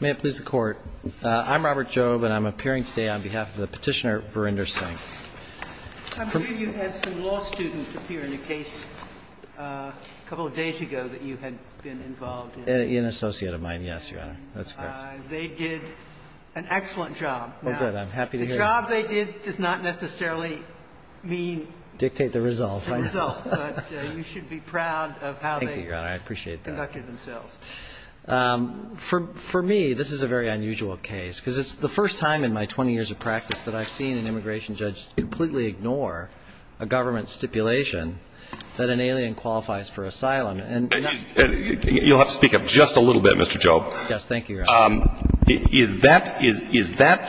May it please the Court. I'm Robert Jobe, and I'm appearing today on behalf of the Petitioner, Verinder Singh. I believe you had some law students appear in a case a couple of days ago that you had been involved in. An associate of mine, yes, Your Honor. That's correct. They did an excellent job. Oh, good. I'm happy to hear that. The job they did does not necessarily mean the result, but you should be proud of how they conducted themselves. For me, this is a very unusual case, because it's the first time in my 20 years of practice that I've seen an immigration judge completely ignore a government stipulation that an alien qualifies for asylum. You'll have to speak up just a little bit, Mr. Jobe. Yes, thank you, Your Honor. Is that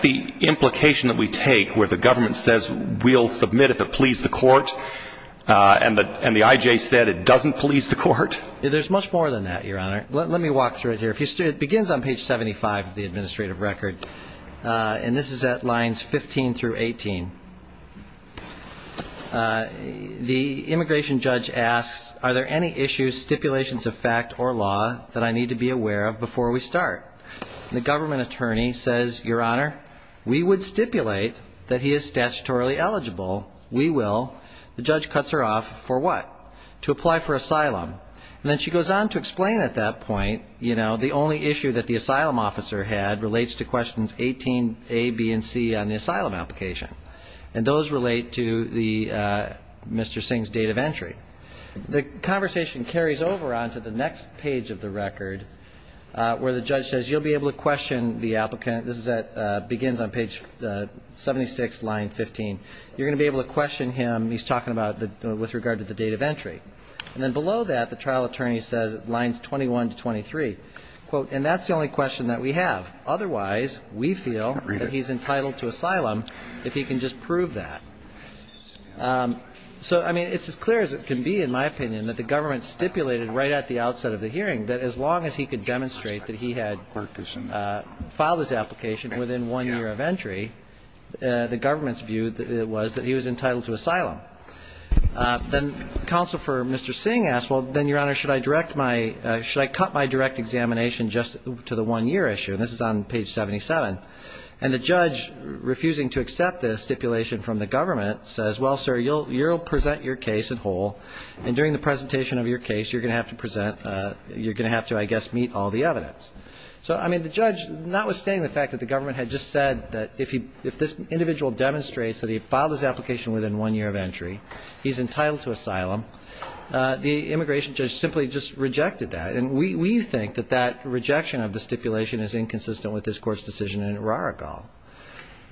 the implication that we take where the government says we'll submit if it pleases the Court, and the I.J. said it doesn't please the Court? There's much more than that, Your Honor. Let me walk through it here. It begins on page 75 of the administrative record, and this is at lines 15 through 18. The immigration judge asks, are there any issues, stipulations of fact, or law that I need to be aware of before we start? The government attorney says, Your Honor, we would stipulate that he is statutorily eligible. We will. The judge cuts her off for what? To apply for asylum. And then she goes on to explain at that point, you know, the only issue that the asylum officer had relates to questions 18a, b, and c on the asylum application, and those relate to Mr. Singh's date of entry. The conversation carries over onto the next page of the record, where the judge says you'll be able to question the applicant. This begins on page 76, line 15. You're going to be able to question him, he's talking about with regard to the date of entry. And then below that, the trial attorney says, lines 21 to 23, quote, and that's the only question that we have. Otherwise, we feel that he's entitled to asylum if he can just prove that. So, I mean, it's as clear as it can be, in my opinion, that the government stipulated right at the outset of the hearing that as long as he could demonstrate that he had filed his application within one year of entry, the government's view was that he was entitled to asylum. Then Counsel for Mr. Singh asked, well, then, Your Honor, should I direct my – should I cut my direct examination just to the one-year issue? And this is on page 77. And the judge, refusing to accept this stipulation from the government, says, well, sir, you'll present your case in whole, and during the presentation of your case, you're going to have to present – you're going to have to, I guess, meet all the evidence. So, I mean, the judge, notwithstanding the fact that the government had just said that if he – if this individual demonstrates that he filed his application within one year of entry, he's entitled to asylum, the immigration judge simply just rejected that. And we think that that rejection of the stipulation is inconsistent with this Court's decision in Urarakal.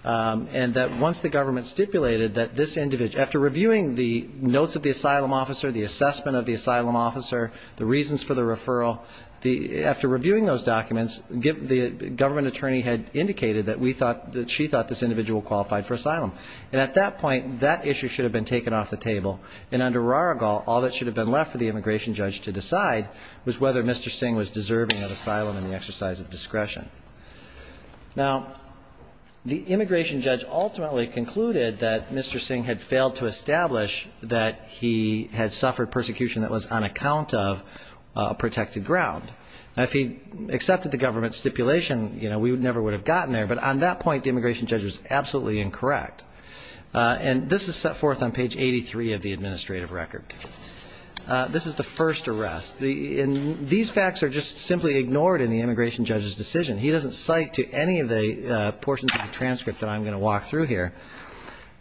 And that once the government stipulated that this individual – after reviewing the notes of the asylum officer, the assessment of the asylum officer, the reasons for the referral, the – after reviewing those documents, the government attorney had indicated that we thought – that she thought this individual qualified for asylum. And at that point, that issue should have been taken off the table. And under Urarakal, all that should have been left for the immigration judge to decide was whether Mr. Singh was deserving of asylum and the exercise of discretion. Now, the immigration judge ultimately concluded that Mr. Singh had failed to establish that he had suffered persecution that was on account of a protected ground. Now, if he accepted the government stipulation, you know, we never would have gotten there. But on that point, the immigration judge was absolutely incorrect. And this is set forth on page 83 of the administrative record. This is the first arrest. These facts are just simply ignored in the immigration judge's decision. He doesn't cite to any of the portions of the transcript that I'm going to walk through here.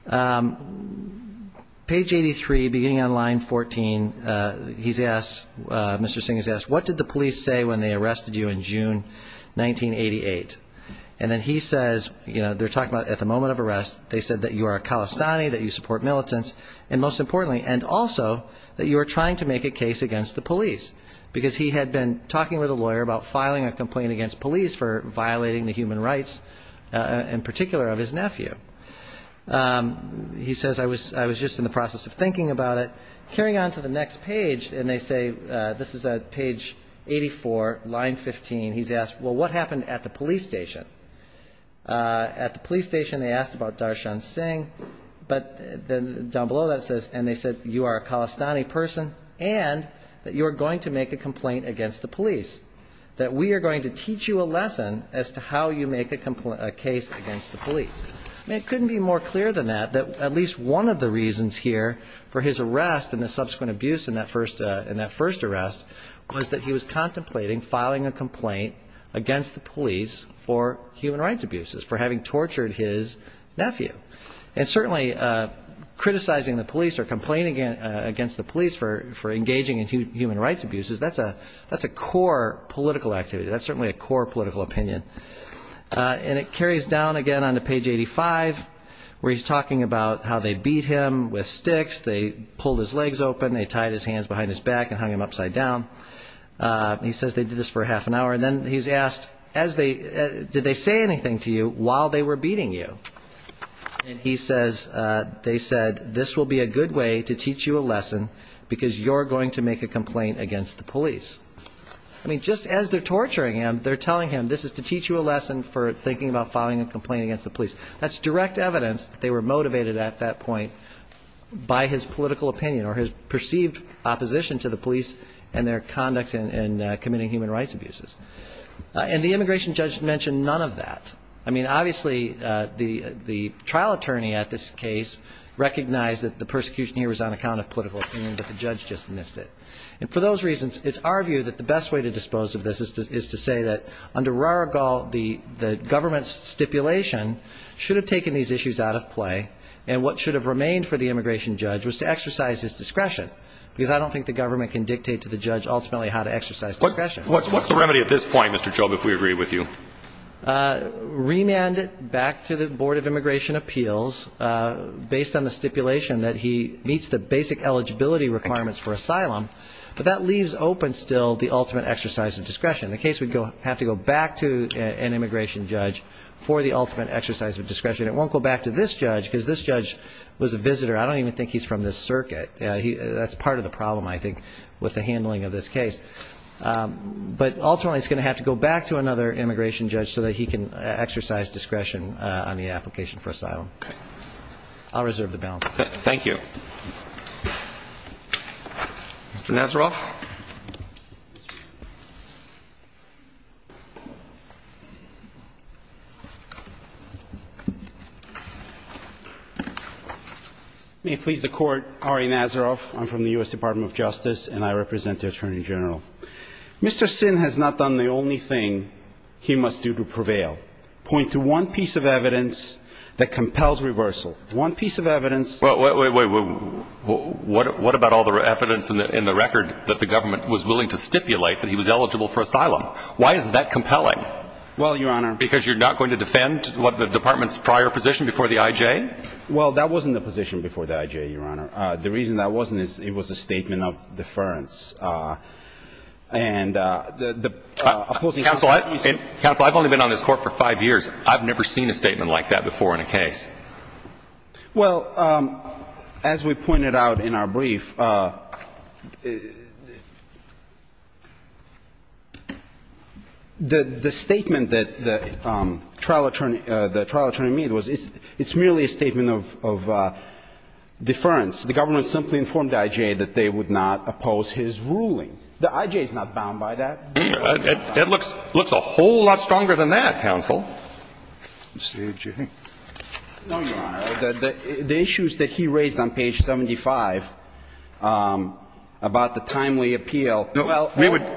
Page 83, beginning on line 14, he's asked – Mr. Singh has asked, what did the police say when they arrested you in June 1988? And then he says, you know, they're talking about at the moment of arrest, they said that you are a Khalistani, that you support militants, and most importantly, and also that you are trying to make a case against the police, because he had been talking with a lawyer about filing a complaint against police for violating the human rights in particular of his nephew. He says, I was just in the process of thinking about it. Carrying on to the next page, and they say – this is page 84, line 15. He's asked, well, what happened at the police station? At the police station, they asked about Darshan Singh. But down below that it says, and they said, you are a Khalistani person and that you are going to make a complaint against the police, that we are going to teach you a lesson as to how you make a case against the police. I mean, it couldn't be more clear than that, that at least one of the reasons here for his arrest and the subsequent abuse in that first arrest was that he was contemplating filing a complaint against the police for human rights abuses, for having tortured his nephew. And certainly, criticizing the police or complaining against the police for engaging in human rights abuses, that's a core political activity. That's certainly a core political opinion. And it carries down again on to page 85, where he's talking about how they beat him with sticks, they pulled his legs open, they tied his hands behind his back and hung him upside down. He says they did this for half an hour. And then he's asked, did they say anything to you while they were beating you? And he says they said, this will be a good way to teach you a lesson because you're going to make a complaint against the police. I mean, just as they're torturing him, they're telling him, this is to teach you a lesson for thinking about filing a complaint against the police. That's direct evidence that they were motivated at that point by his political opinion or his perceived opposition to the police and their conduct in committing human rights abuses. And the immigration judge mentioned none of that. I mean, obviously, the trial attorney at this case recognized that the persecution here was on account of political opinion, but the judge just missed it. And for those reasons, it's our view that the best way to dispose of this is to say that, under Raragal, the government's stipulation should have taken these issues out of play, and what should have remained for the immigration judge was to exercise his discretion because I don't think the government can dictate to the judge ultimately how to exercise discretion. What's the remedy at this point, Mr. Chobh, if we agree with you? Remand it back to the Board of Immigration Appeals, based on the stipulation that he meets the basic eligibility requirements for asylum, but that leaves open still the ultimate exercise of discretion. In the case, we'd have to go back to an immigration judge for the ultimate exercise of discretion. It won't go back to this judge because this judge was a visitor. I don't even think he's from this circuit. That's part of the problem, I think, with the handling of this case. But ultimately, it's going to have to go back to another immigration judge so that he can exercise discretion on the application for asylum. I'll reserve the balance. Thank you. Mr. Nazaroff. May it please the Court, Ari Nazaroff. I'm from the U.S. Department of Justice, and I represent the Attorney General. Mr. Sin has not done the only thing he must do to prevail. Point to one piece of evidence that compels reversal. One piece of evidence. Well, wait, wait, wait, wait. he must do to prevail? Well, your Honor. Because you're not going to defend the Department's prior position before the I.J.? Well, that wasn't the position before the I.J., your Honor. The reason that wasn't is it was a statement of deference. And the opposing counsel used it. Counsel, I've only been on this Court for five years. I've never seen a statement like that before in a case. The statement that the trial attorney made was it's merely a statement of deference. The government simply informed the I.J. that they would not oppose his ruling. The I.J. is not bound by that. It looks a whole lot stronger than that, counsel. No, your Honor. The issues that he raised on page 75 about the timely appeal.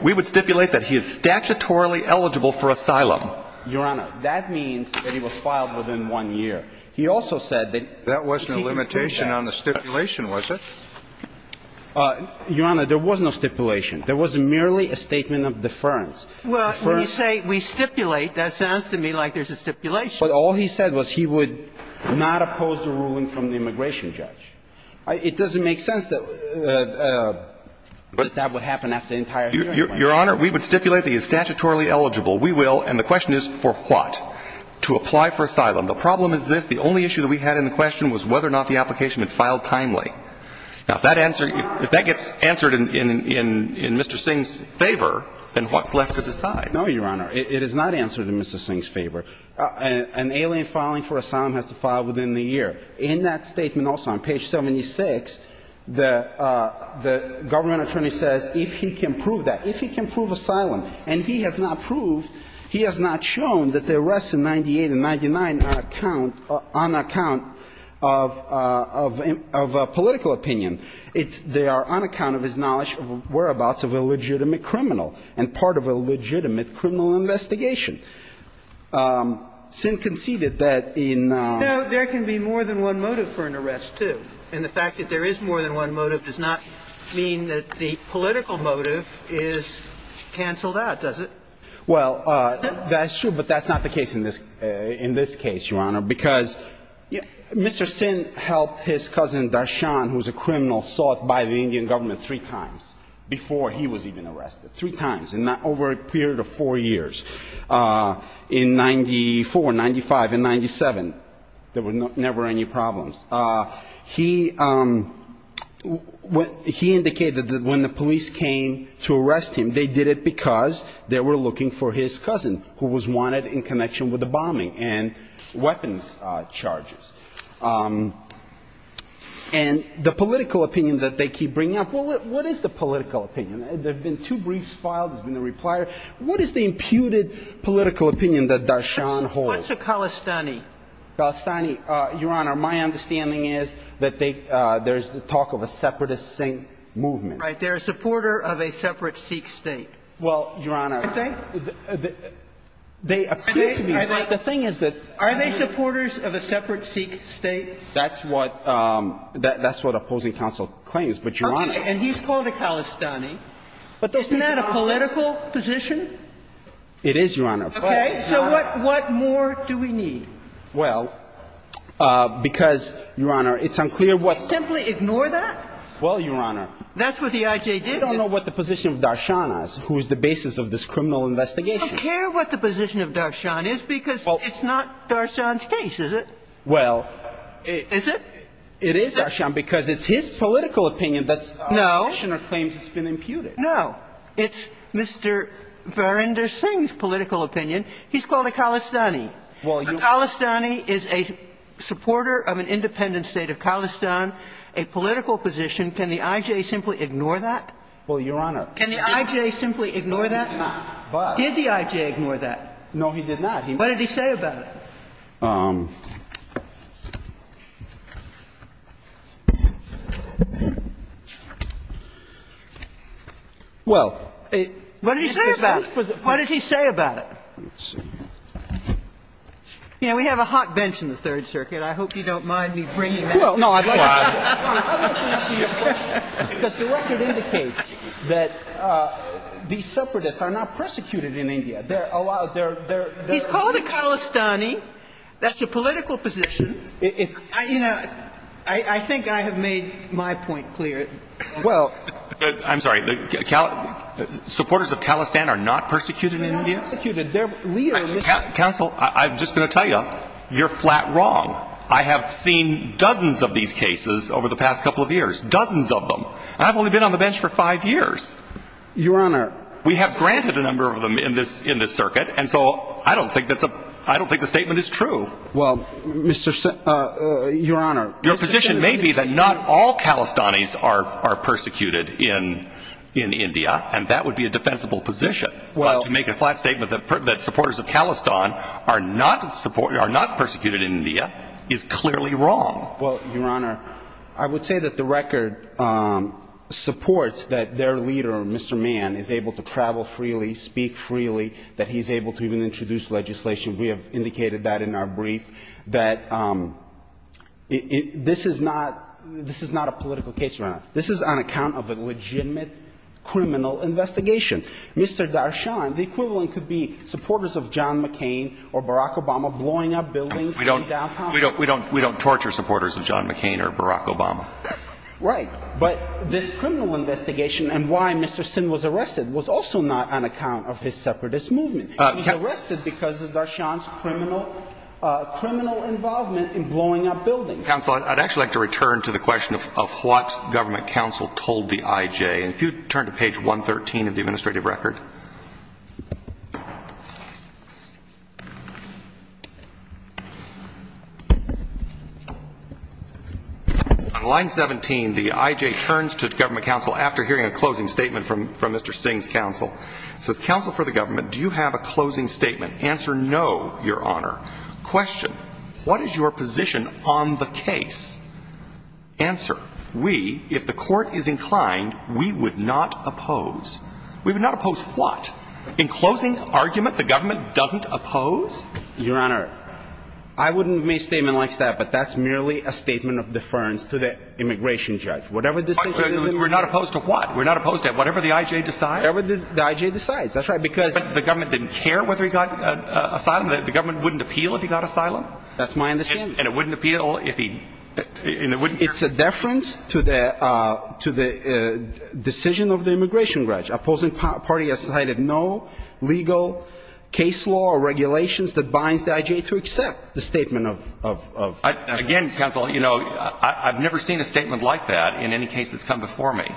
We would stipulate that he is statutorily eligible for asylum. Your Honor, that means that he was filed within one year. He also said that he could do that. That wasn't a limitation on the stipulation, was it? Your Honor, there was no stipulation. There was merely a statement of deference. Well, when you say we stipulate, that sounds to me like there's a stipulation. But all he said was he would not oppose the ruling from the immigration judge. It doesn't make sense that that would happen after the entire hearing. Your Honor, we would stipulate that he is statutorily eligible. We will. And the question is for what? To apply for asylum. The problem is this. The only issue that we had in the question was whether or not the application had been filed timely. Now, if that gets answered in Mr. Singh's favor, then what's left to decide? No, your Honor. It is not answered in Mr. Singh's favor. An alien filing for asylum has to file within the year. In that statement also, on page 76, the government attorney says if he can prove that, if he can prove asylum, and he has not proved, he has not shown that the arrests in 98 and 99 are on account of political opinion. They are on account of his knowledge of whereabouts of a legitimate criminal and part of a legitimate criminal investigation. Singh conceded that in... No, there can be more than one motive for an arrest, too. And the fact that there is more than one motive does not mean that the political motive is canceled out, does it? Well, that's true, but that's not the case in this case, your Honor, because Mr. Singh helped his cousin Darshan, who is a criminal, sought by the Indian government three times before he was even arrested, three times over a period of four years. In 94, 95, and 97, there were never any problems. He indicated that when the police came to arrest him, they did it because they were looking for his cousin, who was wanted in connection with the bombing and weapons charges. And the political opinion that they keep bringing up, well, what is the political opinion? There have been two briefs filed. There's been a reply. What is the imputed political opinion that Darshan holds? What's a Khalistani? Khalistani, your Honor, my understanding is that they – there's the talk of a separatist Singh movement. Right. They're a supporter of a separate Sikh state. Well, your Honor... Aren't they? They appear to be. The thing is that... Are they supporters of a separate Sikh state? That's what – that's what opposing counsel claims, but your Honor... Okay. And he's called a Khalistani. Isn't that a political position? It is, your Honor. Okay. So what more do we need? Well, because, your Honor, it's unclear what... You simply ignore that? Well, your Honor... That's what the IJ did. We don't know what the position of Darshan is, who is the basis of this criminal investigation. We don't care what the position of Darshan is because it's not Darshan's case, is it? Well... Is it? It is Darshan because it's his political opinion that's... No. Darshan claims it's been imputed. No. It's Mr. Varinder Singh's political opinion. He's called a Khalistani. Well, your Honor... A Khalistani is a supporter of an independent state of Khalistan, a political position. Can the IJ simply ignore that? Well, your Honor... Can the IJ simply ignore that? No, he did not, but... Did the IJ ignore that? No, he did not. What did he say about it? Well... What did he say about it? What did he say about it? Let's see. You know, we have a hot bench in the Third Circuit. I hope you don't mind me bringing that up. Well, no, I'd like to... I'd like to answer your question, because the record indicates that these separatists are not persecuted in India. He's called a Khalistani. He's called a Khalistani. He's called a Khalistani. That's a political position. You know, I think I have made my point clear. Well... I'm sorry. Supporters of Khalistan are not persecuted in India? They're not persecuted. They're... Counsel, I'm just going to tell you, you're flat wrong. I have seen dozens of these cases over the past couple of years. Dozens of them. I've only been on the bench for five years. Your Honor... We have granted a number of them in this circuit, and so I don't think that's a... That is true. Well, Mr. Sen... Your Honor... Your position may be that not all Khalistanis are persecuted in India, and that would be a defensible position. Well... But to make a flat statement that supporters of Khalistan are not persecuted in India is clearly wrong. Well, Your Honor, I would say that the record supports that their leader, Mr. Mann, is able to travel freely, speak freely, that he's able to even introduce legislation. We have indicated that in our brief, that this is not a political case, Your Honor. This is on account of a legitimate criminal investigation. Mr. Darshan, the equivalent could be supporters of John McCain or Barack Obama blowing up buildings in downtown. We don't torture supporters of John McCain or Barack Obama. Right. But this criminal investigation and why Mr. Sen was arrested was also not on account of his separatist movement. He was arrested because of Darshan's criminal involvement in blowing up buildings. Counsel, I'd actually like to return to the question of what government counsel told the IJ. If you would turn to page 113 of the administrative record. On line 17, the IJ turns to government counsel after hearing a closing statement from Mr. Singh's counsel. It says, Counsel for the government, do you have a closing statement? Answer, no, Your Honor. Question, what is your position on the case? Answer, we, if the court is inclined, we would not oppose. We would not oppose what? In closing argument, the government doesn't oppose? Your Honor, I wouldn't make a statement like that, but that's merely a statement of deference to the immigration judge. Whatever decision they make. We're not opposed to what? We're not opposed to whatever the IJ decides? Whatever the IJ decides. That's right, because The government didn't care whether he got asylum? The government wouldn't appeal if he got asylum? That's my understanding. And it wouldn't appeal if he, and it wouldn't It's a deference to the decision of the immigration judge. Opposing party has cited no legal case law or regulations that binds the IJ to accept the statement of Again, counsel, you know, I've never seen a statement like that in any case that's come before me.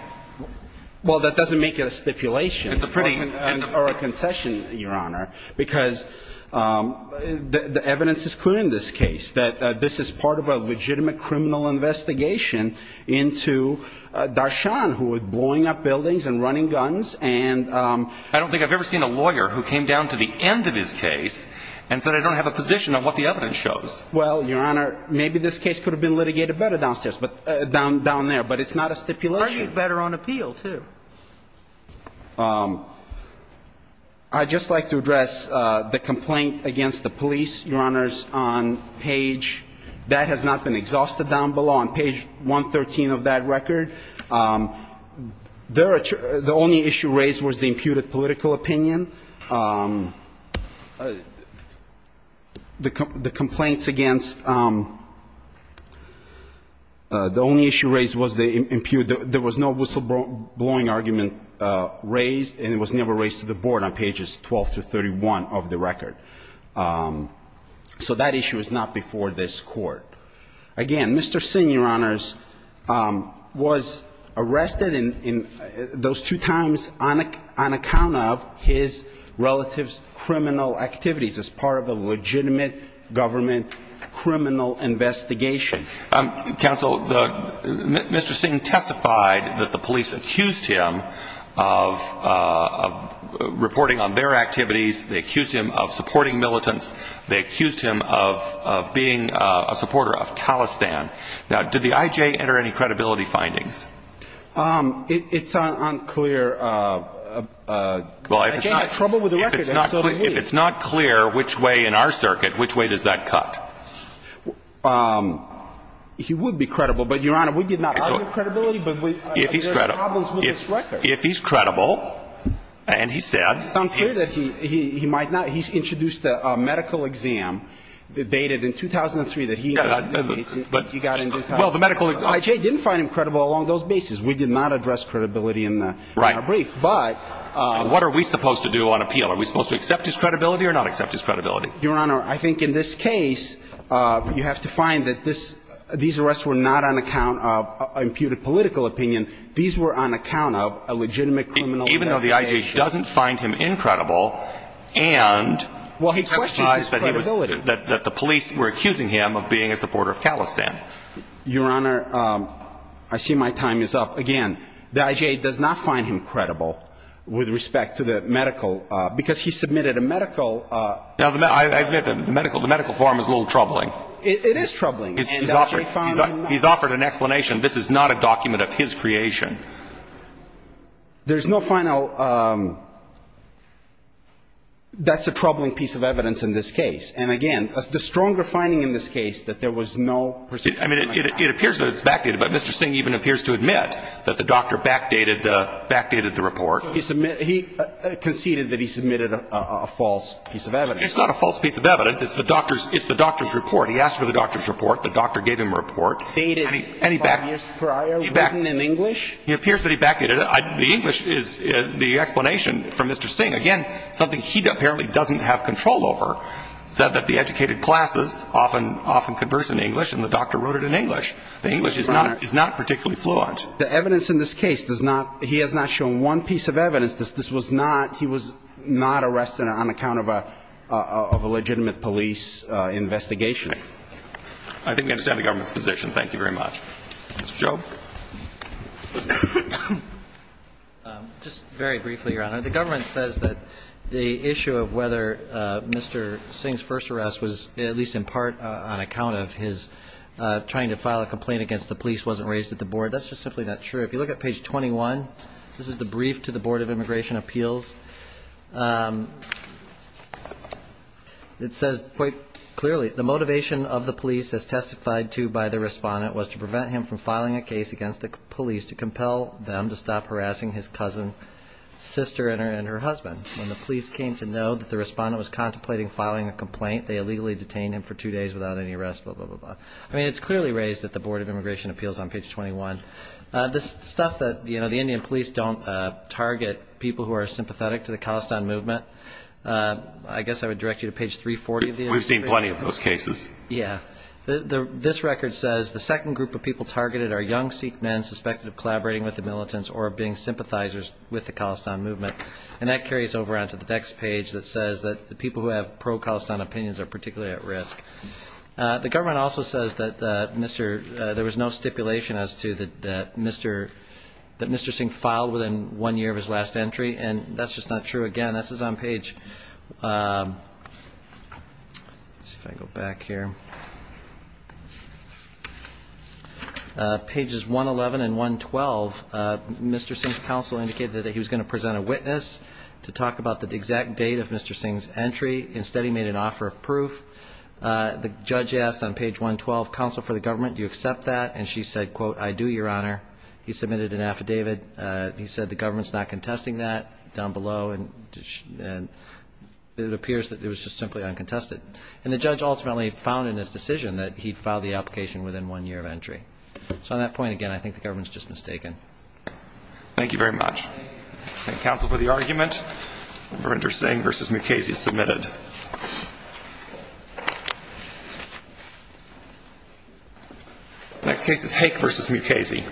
Well, that doesn't make it a stipulation. It's a pretty Or a concession, Your Honor, because the evidence is clear in this case, that this is part of a legitimate criminal investigation into Darshan, who was blowing up buildings and running guns, and I don't think I've ever seen a lawyer who came down to the end of his case and said, I don't have a position on what the evidence shows. Well, Your Honor, maybe this case could have been litigated better downstairs, down there, but it's not a stipulation. Or argued better on appeal, too. I'd just like to address the complaint against the police, Your Honors, on page That has not been exhausted down below on page 113 of that record. The only issue raised was the imputed political opinion. The complaints against the only issue raised was the impute. There was no whistleblowing argument raised, and it was never raised to the board on pages 12 to 31 of the record. So that issue is not before this court. Again, Mr. Singh, Your Honors, was arrested in those two times on account of his criminal activities as part of a legitimate government criminal investigation. Counsel, Mr. Singh testified that the police accused him of reporting on their activities. They accused him of supporting militants. They accused him of being a supporter of Khalistan. Now, did the I.J. enter any credibility findings? It's unclear. Well, if it's not clear which way in our circuit, which way does that cut? He would be credible. But, Your Honor, we did not argue credibility, but there are problems with this record. If he's credible, and he said he is. It's unclear that he might not. He's introduced a medical exam that dated in 2003 that he got into trouble. Well, the medical exam. The I.J. didn't find him credible along those bases. We did not address credibility in our brief. Right. What are we supposed to do on appeal? Are we supposed to accept his credibility or not accept his credibility? Your Honor, I think in this case, you have to find that these arrests were not on account of imputed political opinion. These were on account of a legitimate criminal investigation. Even though the I.J. doesn't find him incredible, and he testified that the police were accusing him of being a supporter of Khalistan. Your Honor, I see my time is up. Again, the I.J. does not find him credible with respect to the medical, because he submitted a medical. Now, I admit the medical form is a little troubling. It is troubling. He's offered an explanation. This is not a document of his creation. There's no final. That's a troubling piece of evidence in this case. And, again, the stronger finding in this case that there was no particular medical. I mean, it appears that it's backdated, but Mr. Singh even appears to admit that the doctor backdated the report. He conceded that he submitted a false piece of evidence. It's not a false piece of evidence. It's the doctor's report. He asked for the doctor's report. The doctor gave him a report. Backdated 5 years prior, written in English? He appears that he backdated it. The English is the explanation from Mr. Singh. Again, something he apparently doesn't have control over, said that the educated classes often converse in English, and the doctor wrote it in English. The English is not particularly fluent. The evidence in this case does not he has not shown one piece of evidence. This was not he was not arrested on account of a legitimate police investigation. I think we understand the government's position. Thank you very much. Mr. Chau. Just very briefly, Your Honor. The government says that the issue of whether Mr. Singh's first arrest was at least in part on account of his trying to file a complaint against the police wasn't raised at the board. That's just simply not true. If you look at page 21, this is the brief to the Board of Immigration Appeals. It says quite clearly, the motivation of the police, as testified to by the respondent, was to prevent him from filing a case against the police to compel them to stop harassing his cousin, sister, and her husband. When the police came to know that the respondent was contemplating filing a complaint, they illegally detained him for two days without any arrest, blah, blah, blah, blah. I mean, it's clearly raised at the Board of Immigration Appeals on page 21. This stuff that, you know, the Indian police don't target people who are sympathetic to the Khalistan movement, I guess I would direct you to page 340. We've seen plenty of those cases. Yeah. This record says, the second group of people targeted are young Sikh men suspected of collaborating with the militants or being sympathizers with the Khalistan movement. And that carries over onto the next page that says that the people who have pro-Khalistan opinions are particularly at risk. The government also says that there was no stipulation as to that Mr. Singh filed within one year of his last entry, and that's just not true. Again, this is on page, let's see if I can go back here, pages 111 and 112. Mr. Singh's counsel indicated that he was going to present a witness to talk about the exact date of Mr. Singh's entry. Instead, he made an offer of proof. The judge asked on page 112, counsel for the government, do you accept that? And she said, quote, I do, Your Honor. He submitted an affidavit. He said the government's not contesting that down below, and it appears that it was just simply uncontested. And the judge ultimately found in his decision that he'd filed the application within one year of entry. So on that point, again, I think the government's just mistaken. Thank you very much. Thank you, counsel, for the argument. Mr. Singh v. Mukasey is submitted. Next case is Hake v. Mukasey.